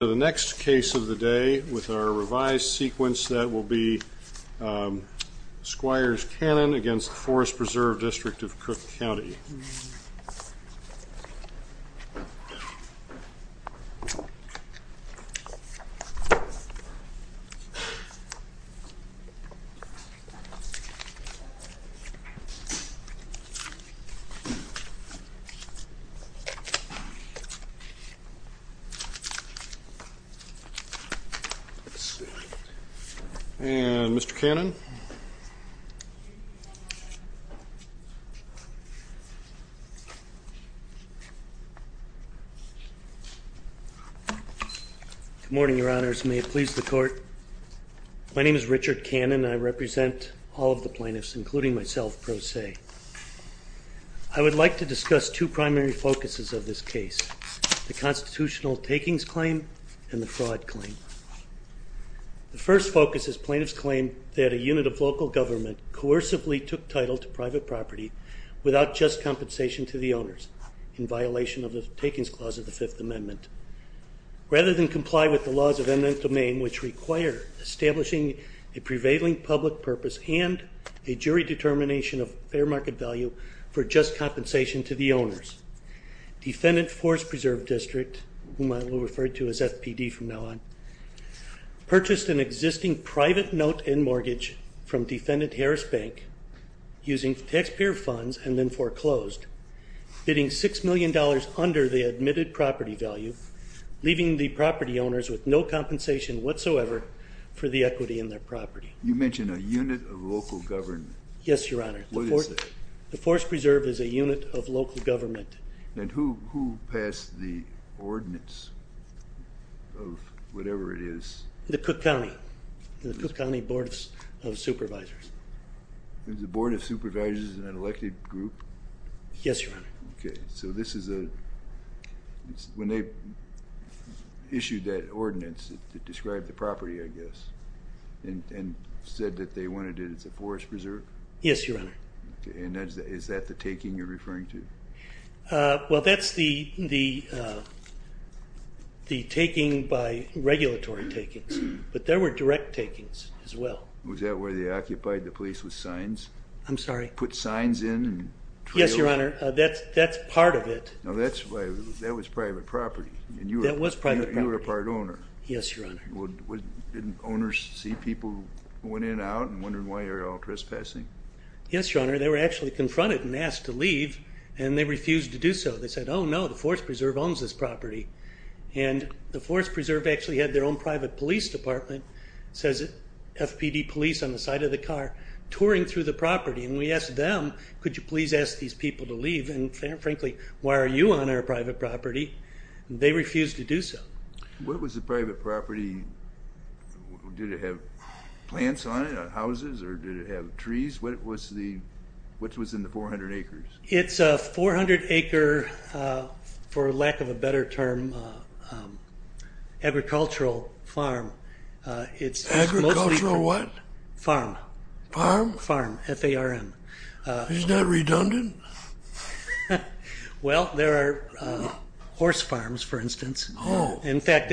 The next case of the day with our revised sequence that will be Squires-Cannon v. Forest Preserve District of Cook County. And Mr. Cannon. Good morning, your honors. May it please the court. My name is Richard Cannon. I represent all of the plaintiffs, including myself, pro se. I would like to discuss two primary focuses of this case, the constitutional takings claim and the fraud claim. The first focus is plaintiff's claim that a unit of local government coercively took title to private property without just compensation to the owners, in violation of the Takings Clause of the Fifth Amendment, rather than comply with the laws of eminent domain which require establishing a prevailing public purpose and a jury determination of fair market value for just compensation to the owners. Defendant Forest Preserve District, whom I will refer to as FPD from now on, purchased an existing private note and mortgage from Defendant Harris Bank using taxpayer funds and then foreclosed, bidding $6 million under the admitted property value, leaving the property owners with no compensation whatsoever for the equity in their property. You mentioned a unit of local government. Yes, your honor. What is it? The Forest Preserve is a unit of local government. And who passed the ordinance of whatever it is? The Cook County Board of Supervisors. The Board of Supervisors is an elected group? Yes, your honor. Okay, so this is a, when they issued that ordinance that described the property, I guess, and said that they wanted it as a forest preserve? Yes, your honor. Okay, and is that the taking you're referring to? Well, that's the taking by regulatory takings, but there were direct takings as well. Was that where they occupied the place with signs? I'm sorry? Put signs in and trails? Yes, your honor. That's part of it. No, that was private property. That was private property. And you were a part owner. Yes, your honor. Didn't owners see people went in and out and wondered why you're all trespassing? Yes, your honor. They were actually confronted and asked to leave, and they refused to do so. They said, oh no, the Forest Preserve owns this property. And the Forest Preserve actually had their own private police department, says FPD police on the side of the car, touring through the property. And we asked them, could you please ask these people to leave? And frankly, why are you on our private property? They refused to do so. What was the private property? Did it have plants on it, houses, or did it have trees? What was in the 400 acres? It's a 400-acre, for lack of a better term, agricultural farm. Agricultural what? Farm. Farm? Farm, F-A-R-M. Isn't that redundant? Well, there are horse farms, for instance. Oh. In fact,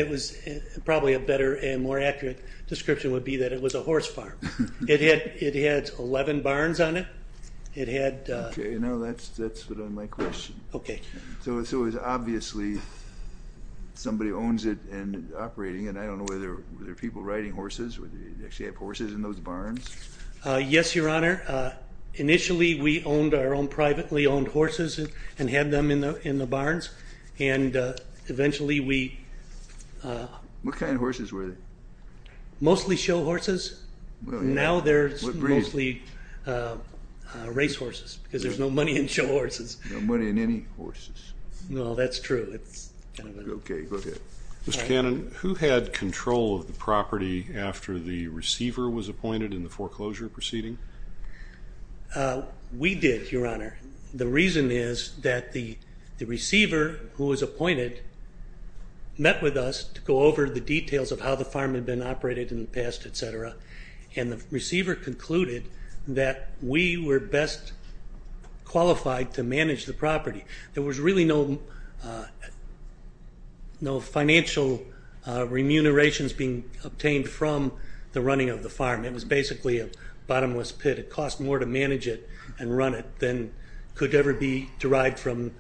probably a better and more accurate description would be that it was a horse farm. It had 11 barns on it. Okay. Now that's my question. Okay. So it was obviously somebody owns it and operating it. I don't know whether there are people riding horses or they actually have horses in those barns. Yes, your honor. Initially, we owned our own privately owned horses and had them in the barns. What kind of horses were they? Mostly show horses. Now they're mostly race horses because there's no money in show horses. No money in any horses. No, that's true. Okay. Go ahead. Mr. Cannon, who had control of the property after the receiver was appointed in the foreclosure proceeding? We did, your honor. The reason is that the receiver who was appointed met with us to go over the details of how the farm had been operated in the past, et cetera, and the receiver concluded that we were best qualified to manage the property. There was really no financial remunerations being obtained from the running of the farm. It was basically a bottomless pit. It cost more to manage it and run it than could ever be derived from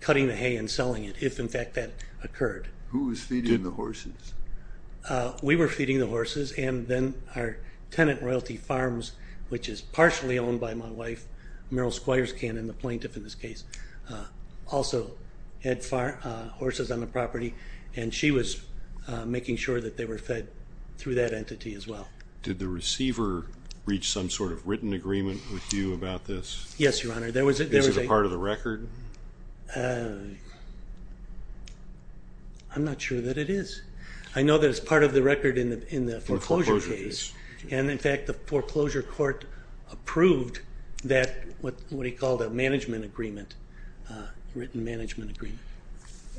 cutting the hay and selling it, if, in fact, that occurred. Who was feeding the horses? We were feeding the horses, and then our tenant royalty farms, which is partially owned by my wife, Meryl Squires Cannon, the plaintiff in this case, also had horses on the property, and she was making sure that they were fed through that entity as well. Did the receiver reach some sort of written agreement with you about this? Yes, your honor. Is it a part of the record? I'm not sure that it is. I know that it's part of the record in the foreclosure case, and, in fact, the foreclosure court approved that, what he called a management agreement, written management agreement.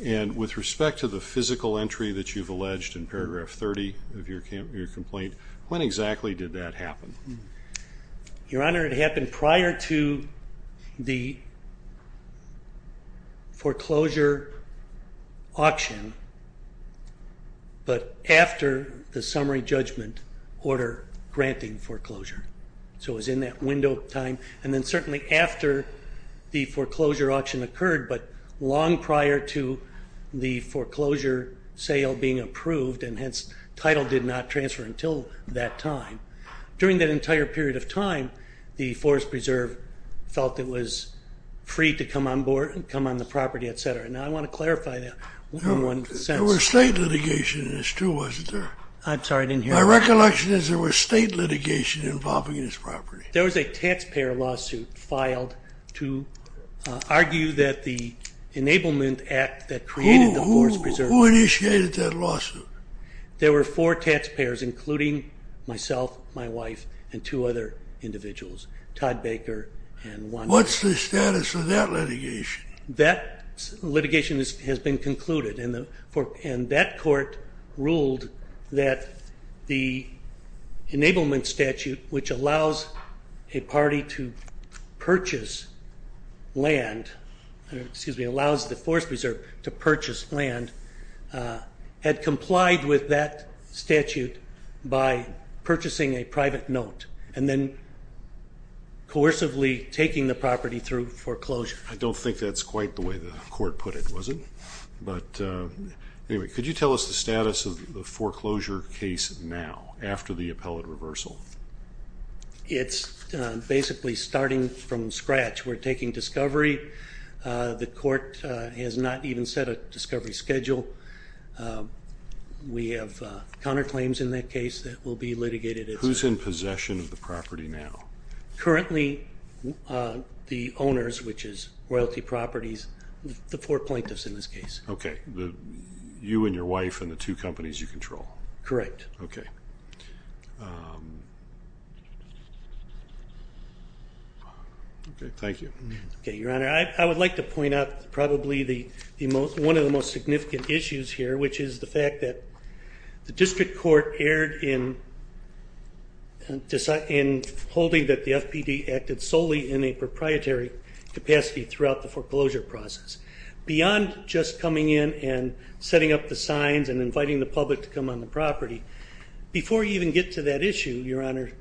And with respect to the physical entry that you've alleged in paragraph 30 of your complaint, when exactly did that happen? Your honor, it happened prior to the foreclosure auction, but after the summary judgment order granting foreclosure. So it was in that window of time, and then certainly after the foreclosure auction occurred, but long prior to the foreclosure sale being approved, and hence title did not transfer until that time. During that entire period of time, the Forest Preserve felt it was free to come on the property, et cetera. Now, I want to clarify that. There were state litigation in this too, wasn't there? I'm sorry, I didn't hear that. My recollection is there was state litigation involving this property. There was a taxpayer lawsuit filed to argue that the enablement act that created the Forest Preserve. Who initiated that lawsuit? There were four taxpayers, including myself, my wife, and two other individuals, Todd Baker and one other. What's the status of that litigation? That litigation has been concluded, and that court ruled that the enablement statute, which allows a party to purchase land, excuse me, allows the Forest Preserve to purchase land, had complied with that statute by purchasing a private note and then coercively taking the property through foreclosure. I don't think that's quite the way the court put it, was it? But anyway, could you tell us the status of the foreclosure case now, after the appellate reversal? It's basically starting from scratch. We're taking discovery. The court has not even set a discovery schedule. We have counterclaims in that case that will be litigated. Who's in possession of the property now? Currently, the owners, which is Royalty Properties, the four plaintiffs in this case. Okay, you and your wife and the two companies you control. Correct. Okay. Okay, thank you. Okay, Your Honor, I would like to point out probably one of the most significant issues here, which is the fact that the district court erred in holding that the FPD acted solely in a proprietary capacity throughout the foreclosure process. Beyond just coming in and setting up the signs and inviting the public to come on the property, before you even get to that issue, Your Honor,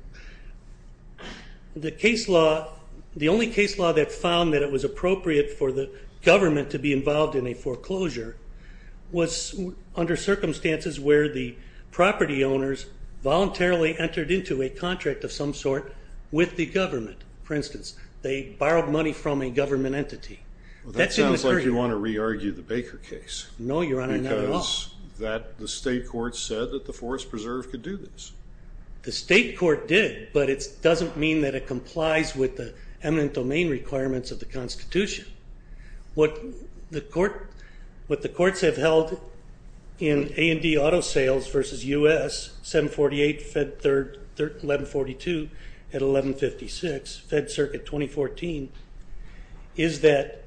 the case law, the only case law that found that it was appropriate for the government to be involved in a foreclosure was under circumstances where the property owners voluntarily entered into a contract of some sort with the government. For instance, they borrowed money from a government entity. Well, that sounds like you want to re-argue the Baker case. No, Your Honor, not at all. Because the state court said that the Forest Preserve could do this. The state court did, but it doesn't mean that it complies with the eminent domain requirements of the Constitution. What the courts have held in A&D Auto Sales v. U.S., 748 Fed 1142 at 1156, Fed Circuit 2014, is that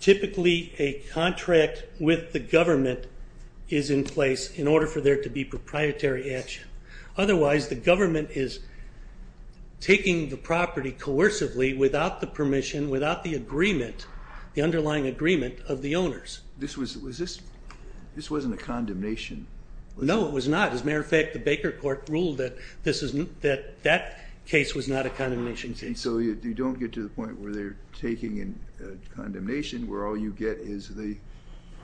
typically a contract with the government is in place in order for there to be proprietary action. Otherwise, the government is taking the property coercively without the permission, without the agreement, the underlying agreement of the owners. This wasn't a condemnation. No, it was not. As a matter of fact, the Baker court ruled that that case was not a condemnation case. And so you don't get to the point where they're taking a condemnation where all you get is the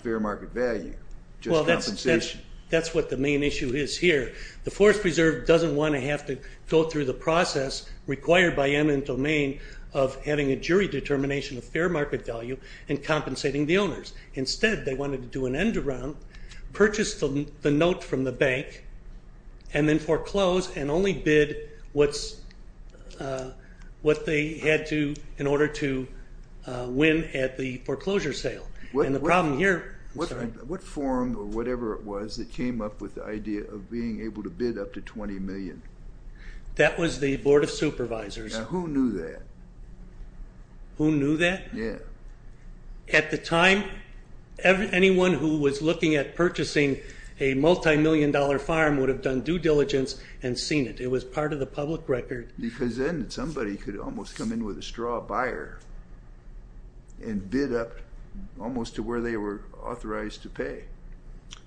fair market value, just compensation. Well, that's what the main issue is here. The Forest Preserve doesn't want to have to go through the process required by eminent domain of having a jury determination of fair market value and compensating the owners. Instead, they wanted to do an end-to-round, purchase the note from the bank, and then foreclose and only bid what they had to in order to win at the foreclosure sale. What forum or whatever it was that came up with the idea of being able to bid up to $20 million? That was the Board of Supervisors. Now, who knew that? Who knew that? Yeah. At the time, anyone who was looking at purchasing a multimillion-dollar farm would have done due diligence and seen it. It was part of the public record. Because then somebody could almost come in with a straw buyer and bid up almost to where they were authorized to pay.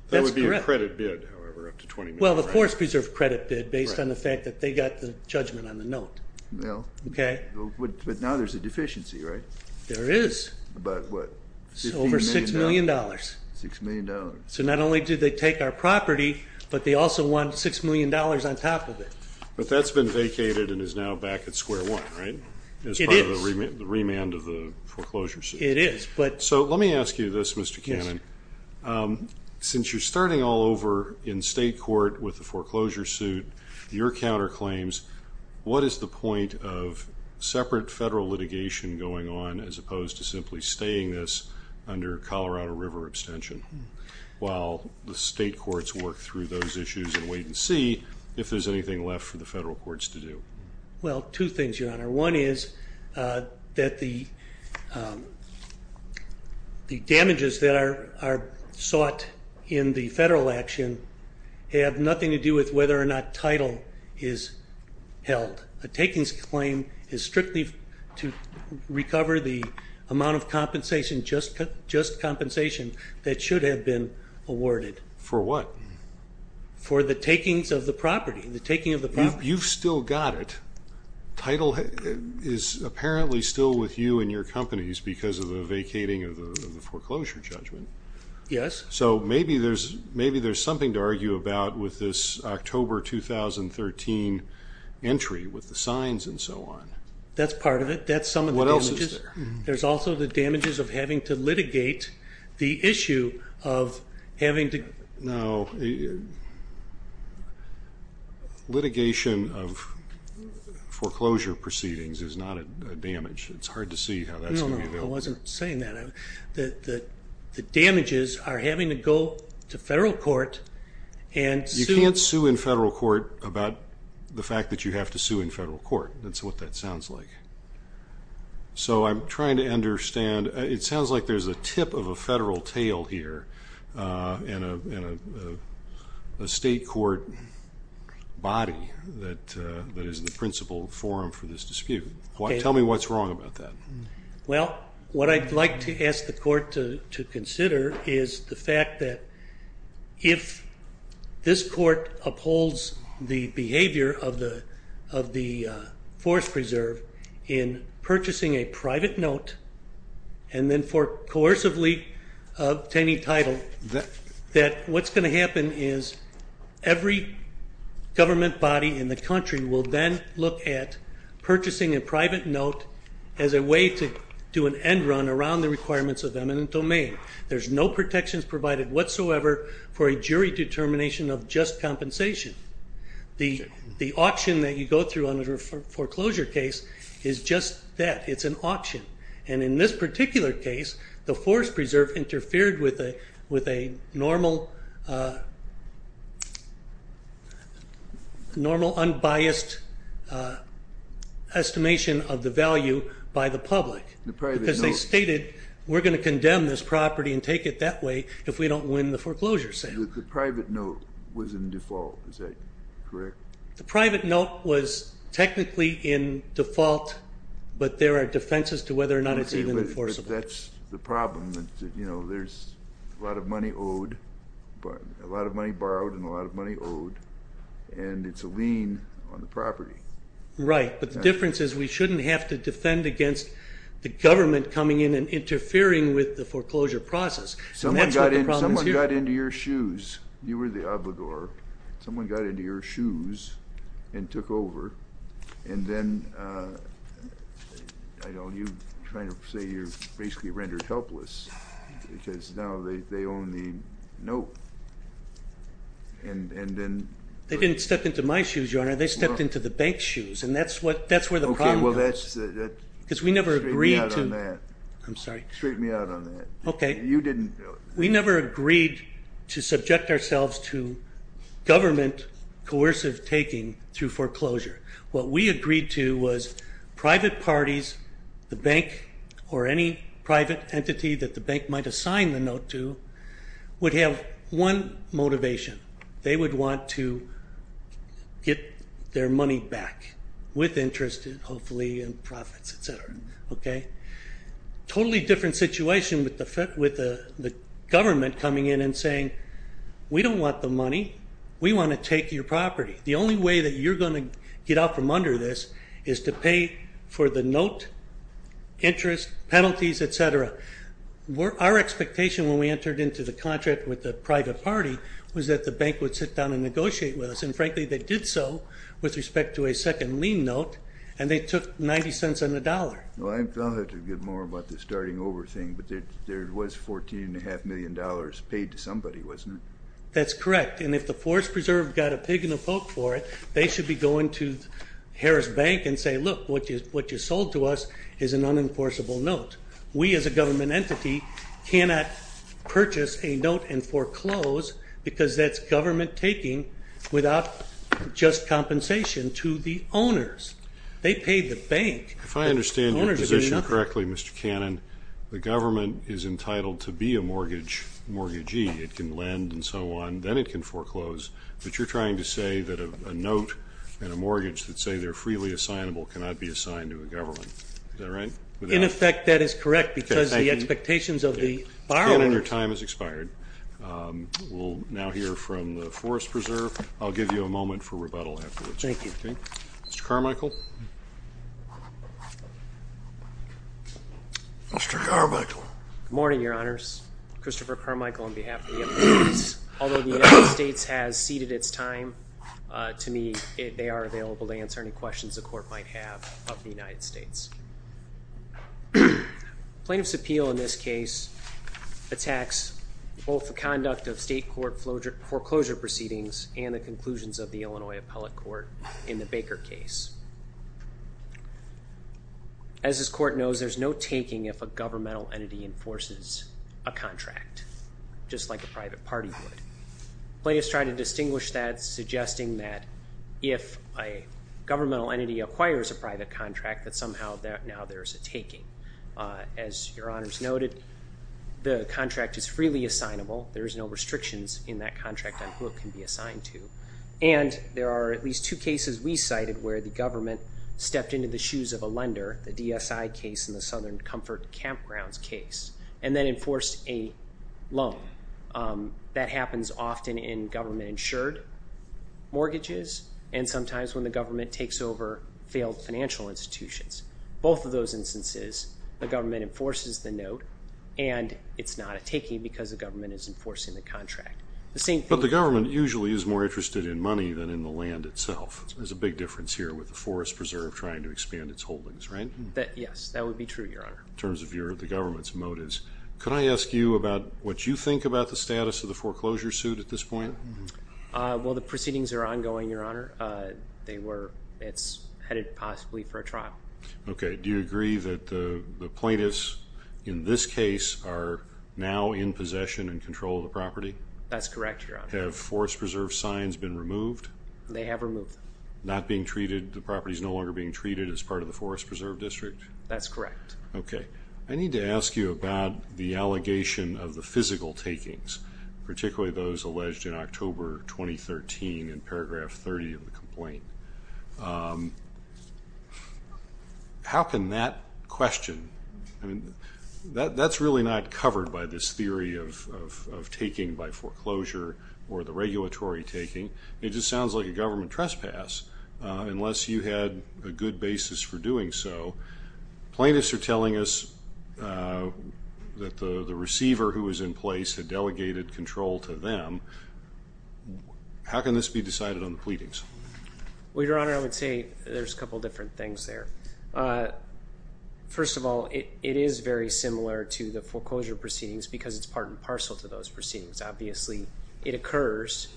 That would be a credit bid, however, up to $20 million. Well, the Forest Preserve credit bid based on the fact that they got the judgment on the note. Well. Okay. But now there's a deficiency, right? There is. About what? Over $6 million. $6 million. So not only did they take our property, but they also won $6 million on top of it. But that's been vacated and is now back at square one, right? It is. As part of the remand of the foreclosure suit. It is. So let me ask you this, Mr. Cannon. Since you're starting all over in state court with the foreclosure suit, your counterclaims, what is the point of separate federal litigation going on as opposed to simply staying this under Colorado River abstention? While the state courts work through those issues and wait and see if there's anything left for the federal courts to do. Well, two things, Your Honor. One is that the damages that are sought in the federal action have nothing to do with whether or not title is held. A takings claim is strictly to recover the amount of compensation, just compensation that should have been awarded. For what? For the takings of the property, the taking of the property. You've still got it. Title is apparently still with you and your companies because of the vacating of the foreclosure judgment. Yes. So maybe there's something to argue about with this October 2013 entry with the signs and so on. That's part of it. That's some of the damages. What else is there? There's also the damages of having to litigate the issue of having to... No, litigation of foreclosure proceedings is not a damage. It's hard to see how that's going to be dealt with. No, no, I wasn't saying that. The damages are having to go to federal court and sue... You can't sue in federal court about the fact that you have to sue in federal court. That's what that sounds like. So I'm trying to understand... It sounds like there's a tip of a federal tail here in a state court body that is the principal forum for this dispute. Tell me what's wrong about that. Well, what I'd like to ask the court to consider is the fact that if this court upholds the behavior of the Forest Preserve in purchasing a private note and then coercively obtaining title, that what's going to happen is every government body in the country will then look at purchasing a private note as a way to do an end run around the requirements of eminent domain. There's no protections provided whatsoever for a jury determination of just compensation. The auction that you go through on a foreclosure case is just that. It's an auction. And in this particular case, the Forest Preserve interfered with a normal, unbiased estimation of the value by the public. Because they stated, we're going to condemn this property and take it that way if we don't win the foreclosure settlement. The private note was in default. Is that correct? The private note was technically in default, but there are defenses to whether or not it's even enforceable. But that's the problem. There's a lot of money owed, a lot of money borrowed, and a lot of money owed, and it's a lien on the property. Right. But the difference is we shouldn't have to defend against the government coming in and interfering with the foreclosure process. Someone got into your shoes. You were the obligor. Someone got into your shoes and took over. And then you're trying to say you're basically rendered helpless because now they own the note. They didn't step into my shoes, Your Honor. They stepped into the bank's shoes, and that's where the problem comes. Because we never agreed to – Straighten me out on that. I'm sorry. Straighten me out on that. Okay. You didn't – We never agreed to subject ourselves to government coercive taking through foreclosure. What we agreed to was private parties, the bank, or any private entity that the bank might assign the note to, would have one motivation. They would want to get their money back with interest, hopefully, and profits, et cetera. Okay? Totally different situation with the government coming in and saying, we don't want the money. We want to take your property. The only way that you're going to get out from under this is to pay for the note, interest, penalties, et cetera. Our expectation when we entered into the contract with the private party was that the bank would sit down and negotiate with us. And, frankly, they did so with respect to a second lien note, and they took 90 cents on the dollar. Well, I'll have to get more about the starting over thing, but there was $14.5 million paid to somebody, wasn't it? That's correct. And if the Forest Preserve got a pig in a poke for it, they should be going to Harris Bank and say, look, what you sold to us is an unenforceable note. We as a government entity cannot purchase a note and foreclose because that's government taking without just compensation to the owners. They pay the bank. If I understand your position correctly, Mr. Cannon, the government is entitled to be a mortgagee. It can lend and so on. Then it can foreclose. But you're trying to say that a note and a mortgage that say they're freely assignable cannot be assigned to a government. Is that right? In effect, that is correct because the expectations of the borrower. Mr. Cannon, your time has expired. We'll now hear from the Forest Preserve. I'll give you a moment for rebuttal afterwards. Thank you. Mr. Carmichael. Mr. Carmichael. Good morning, Your Honors. Christopher Carmichael on behalf of the United States. Although the United States has ceded its time to me, they are available to answer any questions the court might have of the United States. Plaintiff's appeal in this case attacks both the conduct of state court foreclosure proceedings and the conclusions of the Illinois appellate court in the Baker case. As this court knows, there's no taking if a governmental entity enforces a contract, just like a private party would. Plaintiffs try to distinguish that, suggesting that if a governmental entity acquires a private contract, that somehow now there's a taking. As Your Honors noted, the contract is freely assignable. There's no restrictions in that contract on who it can be assigned to. And there are at least two cases we cited where the government stepped into the shoes of a lender, the DSI case and the Southern Comfort Campgrounds case, and then enforced a loan. That happens often in government-insured mortgages and sometimes when the government takes over failed financial institutions. Both of those instances, the government enforces the note, and it's not a taking because the government is enforcing the contract. But the government usually is more interested in money than in the land itself. There's a big difference here with the Forest Preserve trying to expand its holdings, right? Yes, that would be true, Your Honor. In terms of the government's motives, could I ask you about what you think about the status of the foreclosure suit at this point? Well, the proceedings are ongoing, Your Honor. It's headed possibly for a trial. Okay. Do you agree that the plaintiffs in this case are now in possession and control of the property? That's correct, Your Honor. Have Forest Preserve signs been removed? They have removed them. Not being treated, the property is no longer being treated as part of the Forest Preserve District? That's correct. Okay. I need to ask you about the allegation of the physical takings, particularly those alleged in October 2013 in Paragraph 30 of the complaint. How can that question? That's really not covered by this theory of taking by foreclosure or the regulatory taking. It just sounds like a government trespass, unless you had a good basis for doing so. Plaintiffs are telling us that the receiver who was in place had delegated control to them. How can this be decided on the pleadings? Well, Your Honor, I would say there's a couple different things there. First of all, it is very similar to the foreclosure proceedings because it's part and parcel to those proceedings. Obviously, it occurs,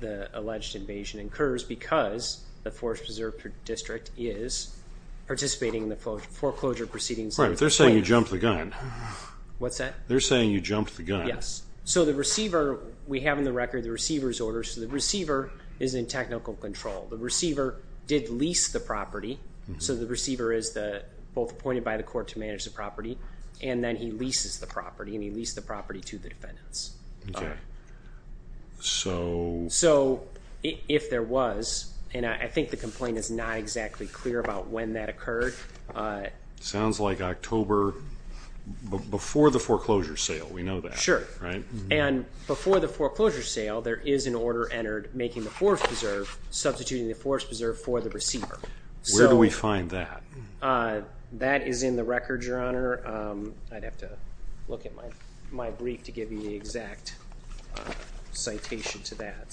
the alleged invasion occurs, because the Forest Preserve District is participating in the foreclosure proceedings. Right, but they're saying you jumped the gun. What's that? They're saying you jumped the gun. Yes. So the receiver, we have in the record the receiver's orders, so the receiver is in technical control. The receiver did lease the property, so the receiver is both appointed by the court to manage the property, and then he leases the property, and he leases the property to the defendants. Okay. So? So if there was, and I think the complaint is not exactly clear about when that occurred. Sounds like October before the foreclosure sale. We know that. Sure. And before the foreclosure sale, there is an order entered making the Forest Preserve, substituting the Forest Preserve for the receiver. Where do we find that? That is in the record, Your Honor. I'd have to look at my brief to give you the exact citation to that.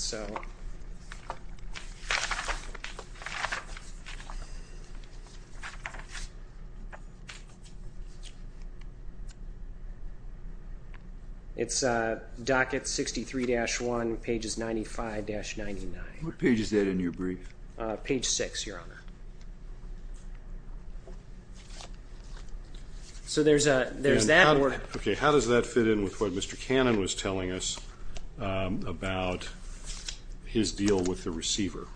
It's docket 63-1, pages 95-99. What page is that in your brief? Page 6, Your Honor. Okay. How does that fit in with what Mr. Cannon was telling us about his deal with the receiver?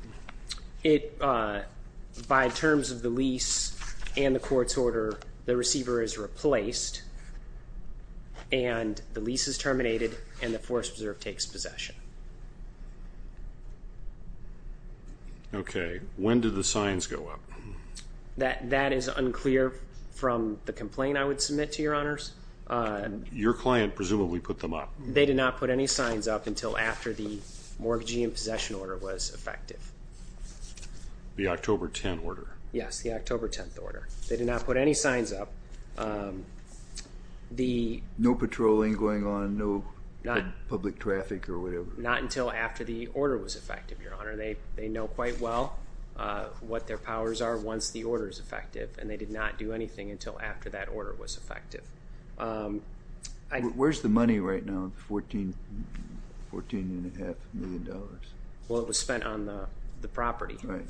By terms of the lease and the court's order, the receiver is replaced, and the lease is terminated, and the Forest Preserve takes possession. Okay. When did the signs go up? That is unclear from the complaint I would submit to Your Honors. Your client presumably put them up. They did not put any signs up until after the mortgage and possession order was effective. The October 10 order. Yes, the October 10 order. They did not put any signs up. No patrolling going on, no public traffic or whatever? Not until after the order was effective, Your Honor. They know quite well what their powers are once the order is effective, and they did not do anything until after that order was effective. Where's the money right now, $14.5 million? Well, it was spent on the property. Right.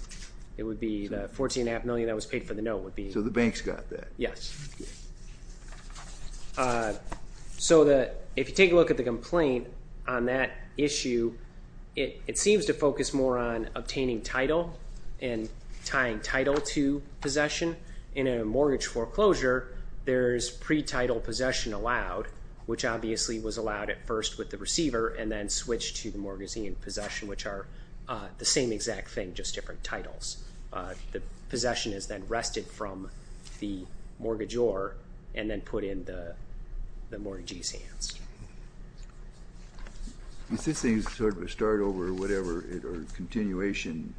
It would be the $14.5 million that was paid for the note would be. So the bank's got that? Yes. So if you take a look at the complaint, on that issue, it seems to focus more on obtaining title and tying title to possession. In a mortgage foreclosure, there's pre-title possession allowed, which obviously was allowed at first with the receiver and then switched to the mortgagee and possession, which are the same exact thing, just different titles. The possession is then wrested from the mortgagee and then put in the mortgagee's hands. Since things sort of start over or whatever, or continuation,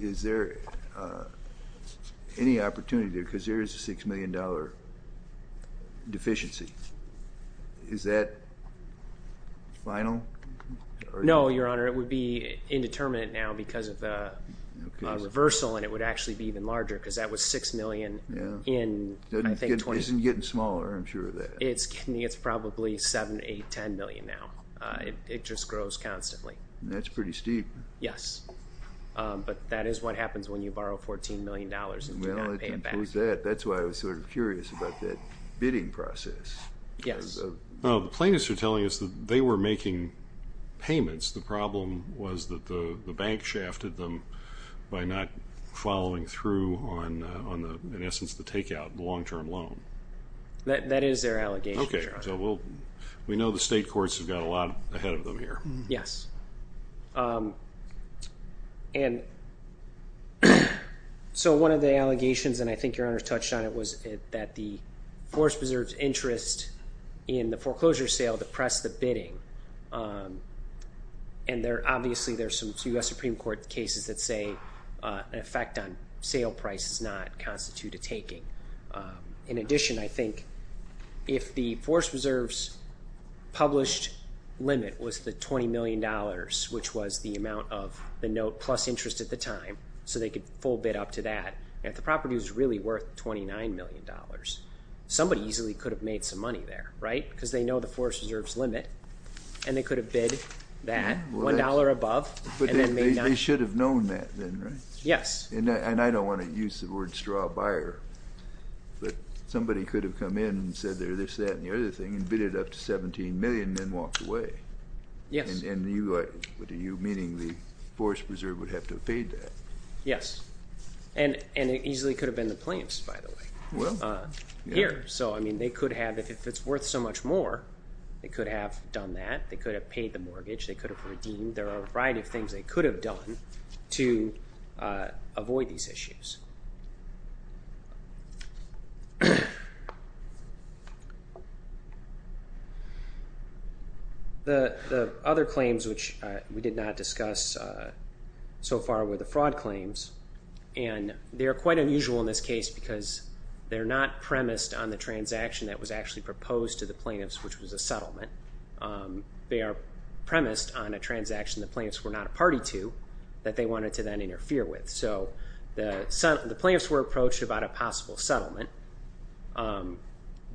is there any opportunity, because there is a $6 million deficiency, is that final? No, Your Honor. It would be indeterminate now because of the reversal, and it would actually be even larger, because that was $6 million in, I think, 20. It isn't getting smaller, I'm sure of that. It's probably $7 million, $8 million, $10 million now. It just grows constantly. That's pretty steep. Yes, but that is what happens when you borrow $14 million and do not pay it back. Well, it includes that. That's why I was sort of curious about that bidding process. Yes. The plaintiffs are telling us that they were making payments. The problem was that the bank shafted them by not following through on, in essence, the takeout, the long-term loan. That is their allegation, Your Honor. Okay, so we know the state courts have got a lot ahead of them here. Yes. And so one of the allegations, and I think Your Honor has touched on it, was that the Forest Preserve's interest in the foreclosure sale depressed the bidding, and obviously there are some U.S. Supreme Court cases that say an effect on sale price does not constitute a taking. In addition, I think if the Forest Preserve's published limit was the $20 million, which was the amount of the note plus interest at the time, so they could full bid up to that, and if the property was really worth $29 million, somebody easily could have made some money there, right? Because they know the Forest Preserve's limit, and they could have bid that $1 above. But they should have known that then, right? Yes. And I don't want to use the word straw buyer, but somebody could have come in and said they're this, that, and the other thing and bid it up to $17 million and then walked away. Yes. And you, meaning the Forest Preserve would have to have paid that. Yes. And it easily could have been the plants, by the way, here. So, I mean, they could have, if it's worth so much more, they could have done that. They could have paid the mortgage. They could have redeemed. There are a variety of things they could have done to avoid these issues. The other claims which we did not discuss so far were the fraud claims, and they are quite unusual in this case because they're not premised on the transaction that was actually proposed to the plaintiffs, which was a settlement. They are premised on a transaction the plaintiffs were not a party to that they wanted to then interfere with. So the plaintiffs were approached about a possible settlement,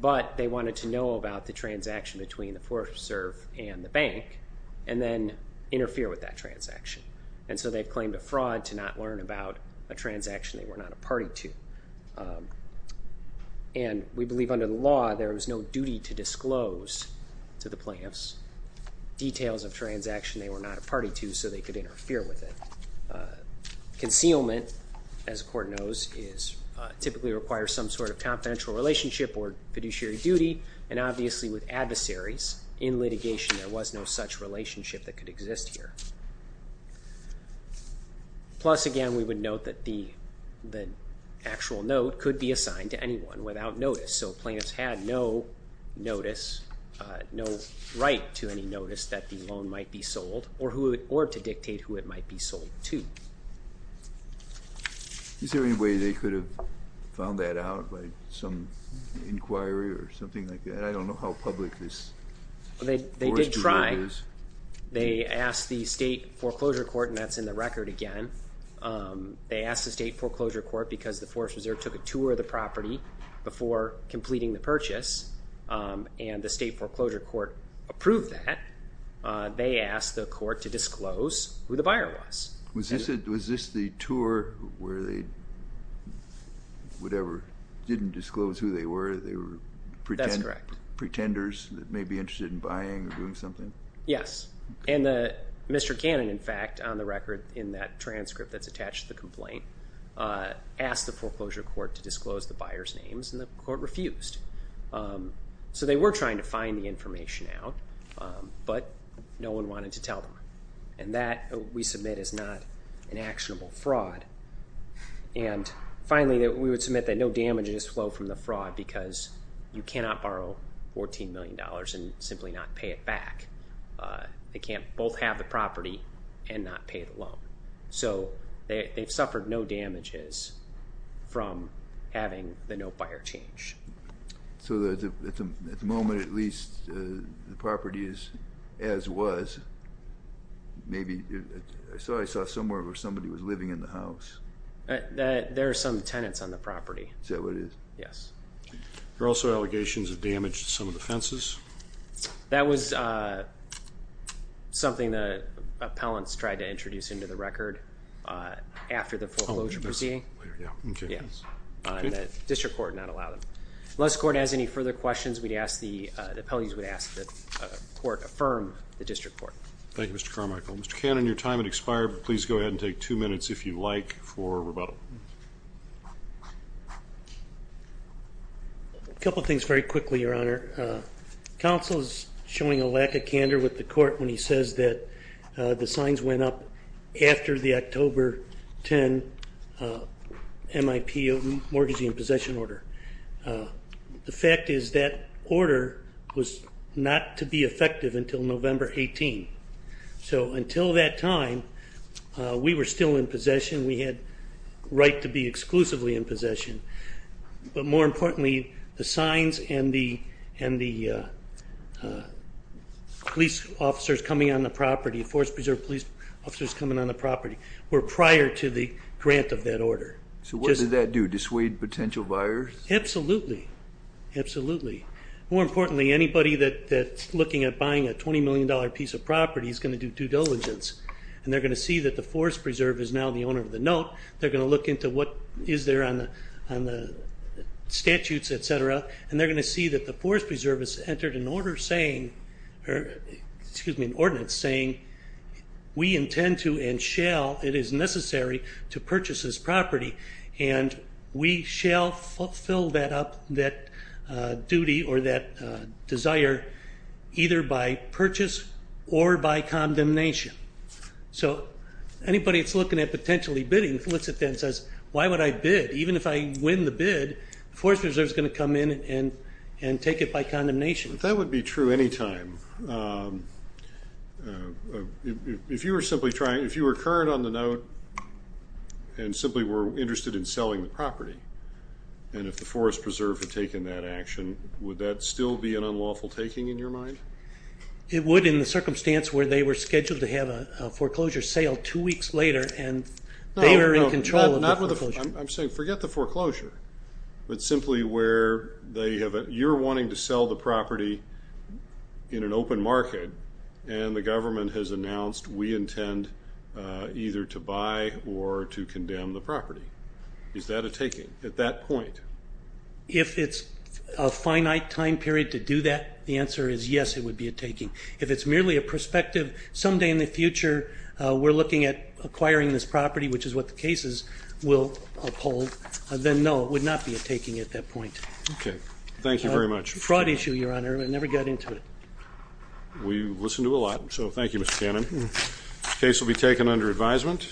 but they wanted to know about the transaction between the Forest Preserve and the bank and then interfere with that transaction. And so they've claimed a fraud to not learn about a transaction they were not a party to. And we believe under the law, there was no duty to disclose to the plaintiffs details of transaction they were not a party to so they could interfere with it. Concealment, as the court knows, typically requires some sort of confidential relationship or fiduciary duty, and obviously with adversaries in litigation, there was no such relationship that could exist here. Plus again, we would note that the actual note could be assigned to anyone without notice. So plaintiffs had no notice, no right to any notice that the loan might be sold or to dictate who it might be sold to. Is there any way they could have found that out by some inquiry or something like that? I don't know how public this Forest Preserve is. They did try. They asked the State Foreclosure Court, and that's in the record again. They asked the State Foreclosure Court because the Forest Preserve took a tour of the property before completing the purchase, and the State Foreclosure Court approved that. They asked the court to disclose who the buyer was. Was this the tour where they, whatever, didn't disclose who they were? That's correct. Pretenders that may be interested in buying or doing something? Yes. And Mr. Cannon, in fact, on the record in that transcript that's attached to the complaint, asked the Foreclosure Court to disclose the buyer's names, and the court refused. So they were trying to find the information out, but no one wanted to tell them. And that, we submit, is not an actionable fraud. And finally, we would submit that no damage has flowed from the fraud because you cannot borrow $14 million and simply not pay it back. They can't both have the property and not pay the loan. So they've suffered no damages from having the no buyer change. So at the moment, at least, the property is as was. Maybe, I saw somewhere where somebody was living in the house. There are some tenants on the property. Is that what it is? Yes. There are also allegations of damage to some of the fences. That was something that appellants tried to introduce into the record after the foreclosure proceeding. And the District Court did not allow them. Unless the court has any further questions, we'd ask the, the appellants would ask that the court affirm the District Court. Thank you, Mr. Carmichael. Mr. Cannon, your time has expired. Please go ahead and take two minutes if you'd like for rebuttal. A couple of things very quickly, Your Honor. Counsel is showing a lack of candor with the court when he says that the signs went up after the October 10 MIP, Mortgage and Possession Order. The fact is that order was not to be effective until November 18. So until that time, we were still in possession. We had the right to be exclusively in possession. But more importantly, the signs and the police officers coming on the property, Forest Preserve police officers coming on the property, were prior to the grant of that order. So what did that do? Dissuade potential buyers? Absolutely. Absolutely. More importantly, anybody that's looking at buying a $20 million piece of property is going to do due diligence. And they're going to see that the Forest Preserve is now the owner of the note. They're going to look into what is there on the statutes, et cetera. And they're going to see that the Forest Preserve has entered an order saying, or excuse me, an ordinance saying, we intend to and shall, it is necessary, to purchase this property. And we shall fill that up, that duty or that desire, either by purchase or by condemnation. So anybody that's looking at potentially bidding looks at that and says, why would I bid? Even if I win the bid, the Forest Preserve is going to come in and take it by condemnation. That would be true any time. If you were simply trying, if you were current on the note and simply were interested in selling the property, and if the Forest Preserve had taken that action, would that still be an unlawful taking in your mind? It would in the circumstance where they were scheduled to have a foreclosure sale two weeks later and they were in control of the foreclosure. I'm saying forget the foreclosure, but simply where you're wanting to sell the property in an open market and the government has announced, we intend either to buy or to condemn the property. Is that a taking at that point? If it's a finite time period to do that, the answer is yes, it would be a taking. If it's merely a prospective, someday in the future, we're looking at acquiring this property, which is what the cases will uphold, then no, it would not be a taking at that point. Okay. Thank you very much. Fraud issue, Your Honor. I never got into it. We listen to a lot, so thank you, Mr. Cannon. The case will be taken under advisement.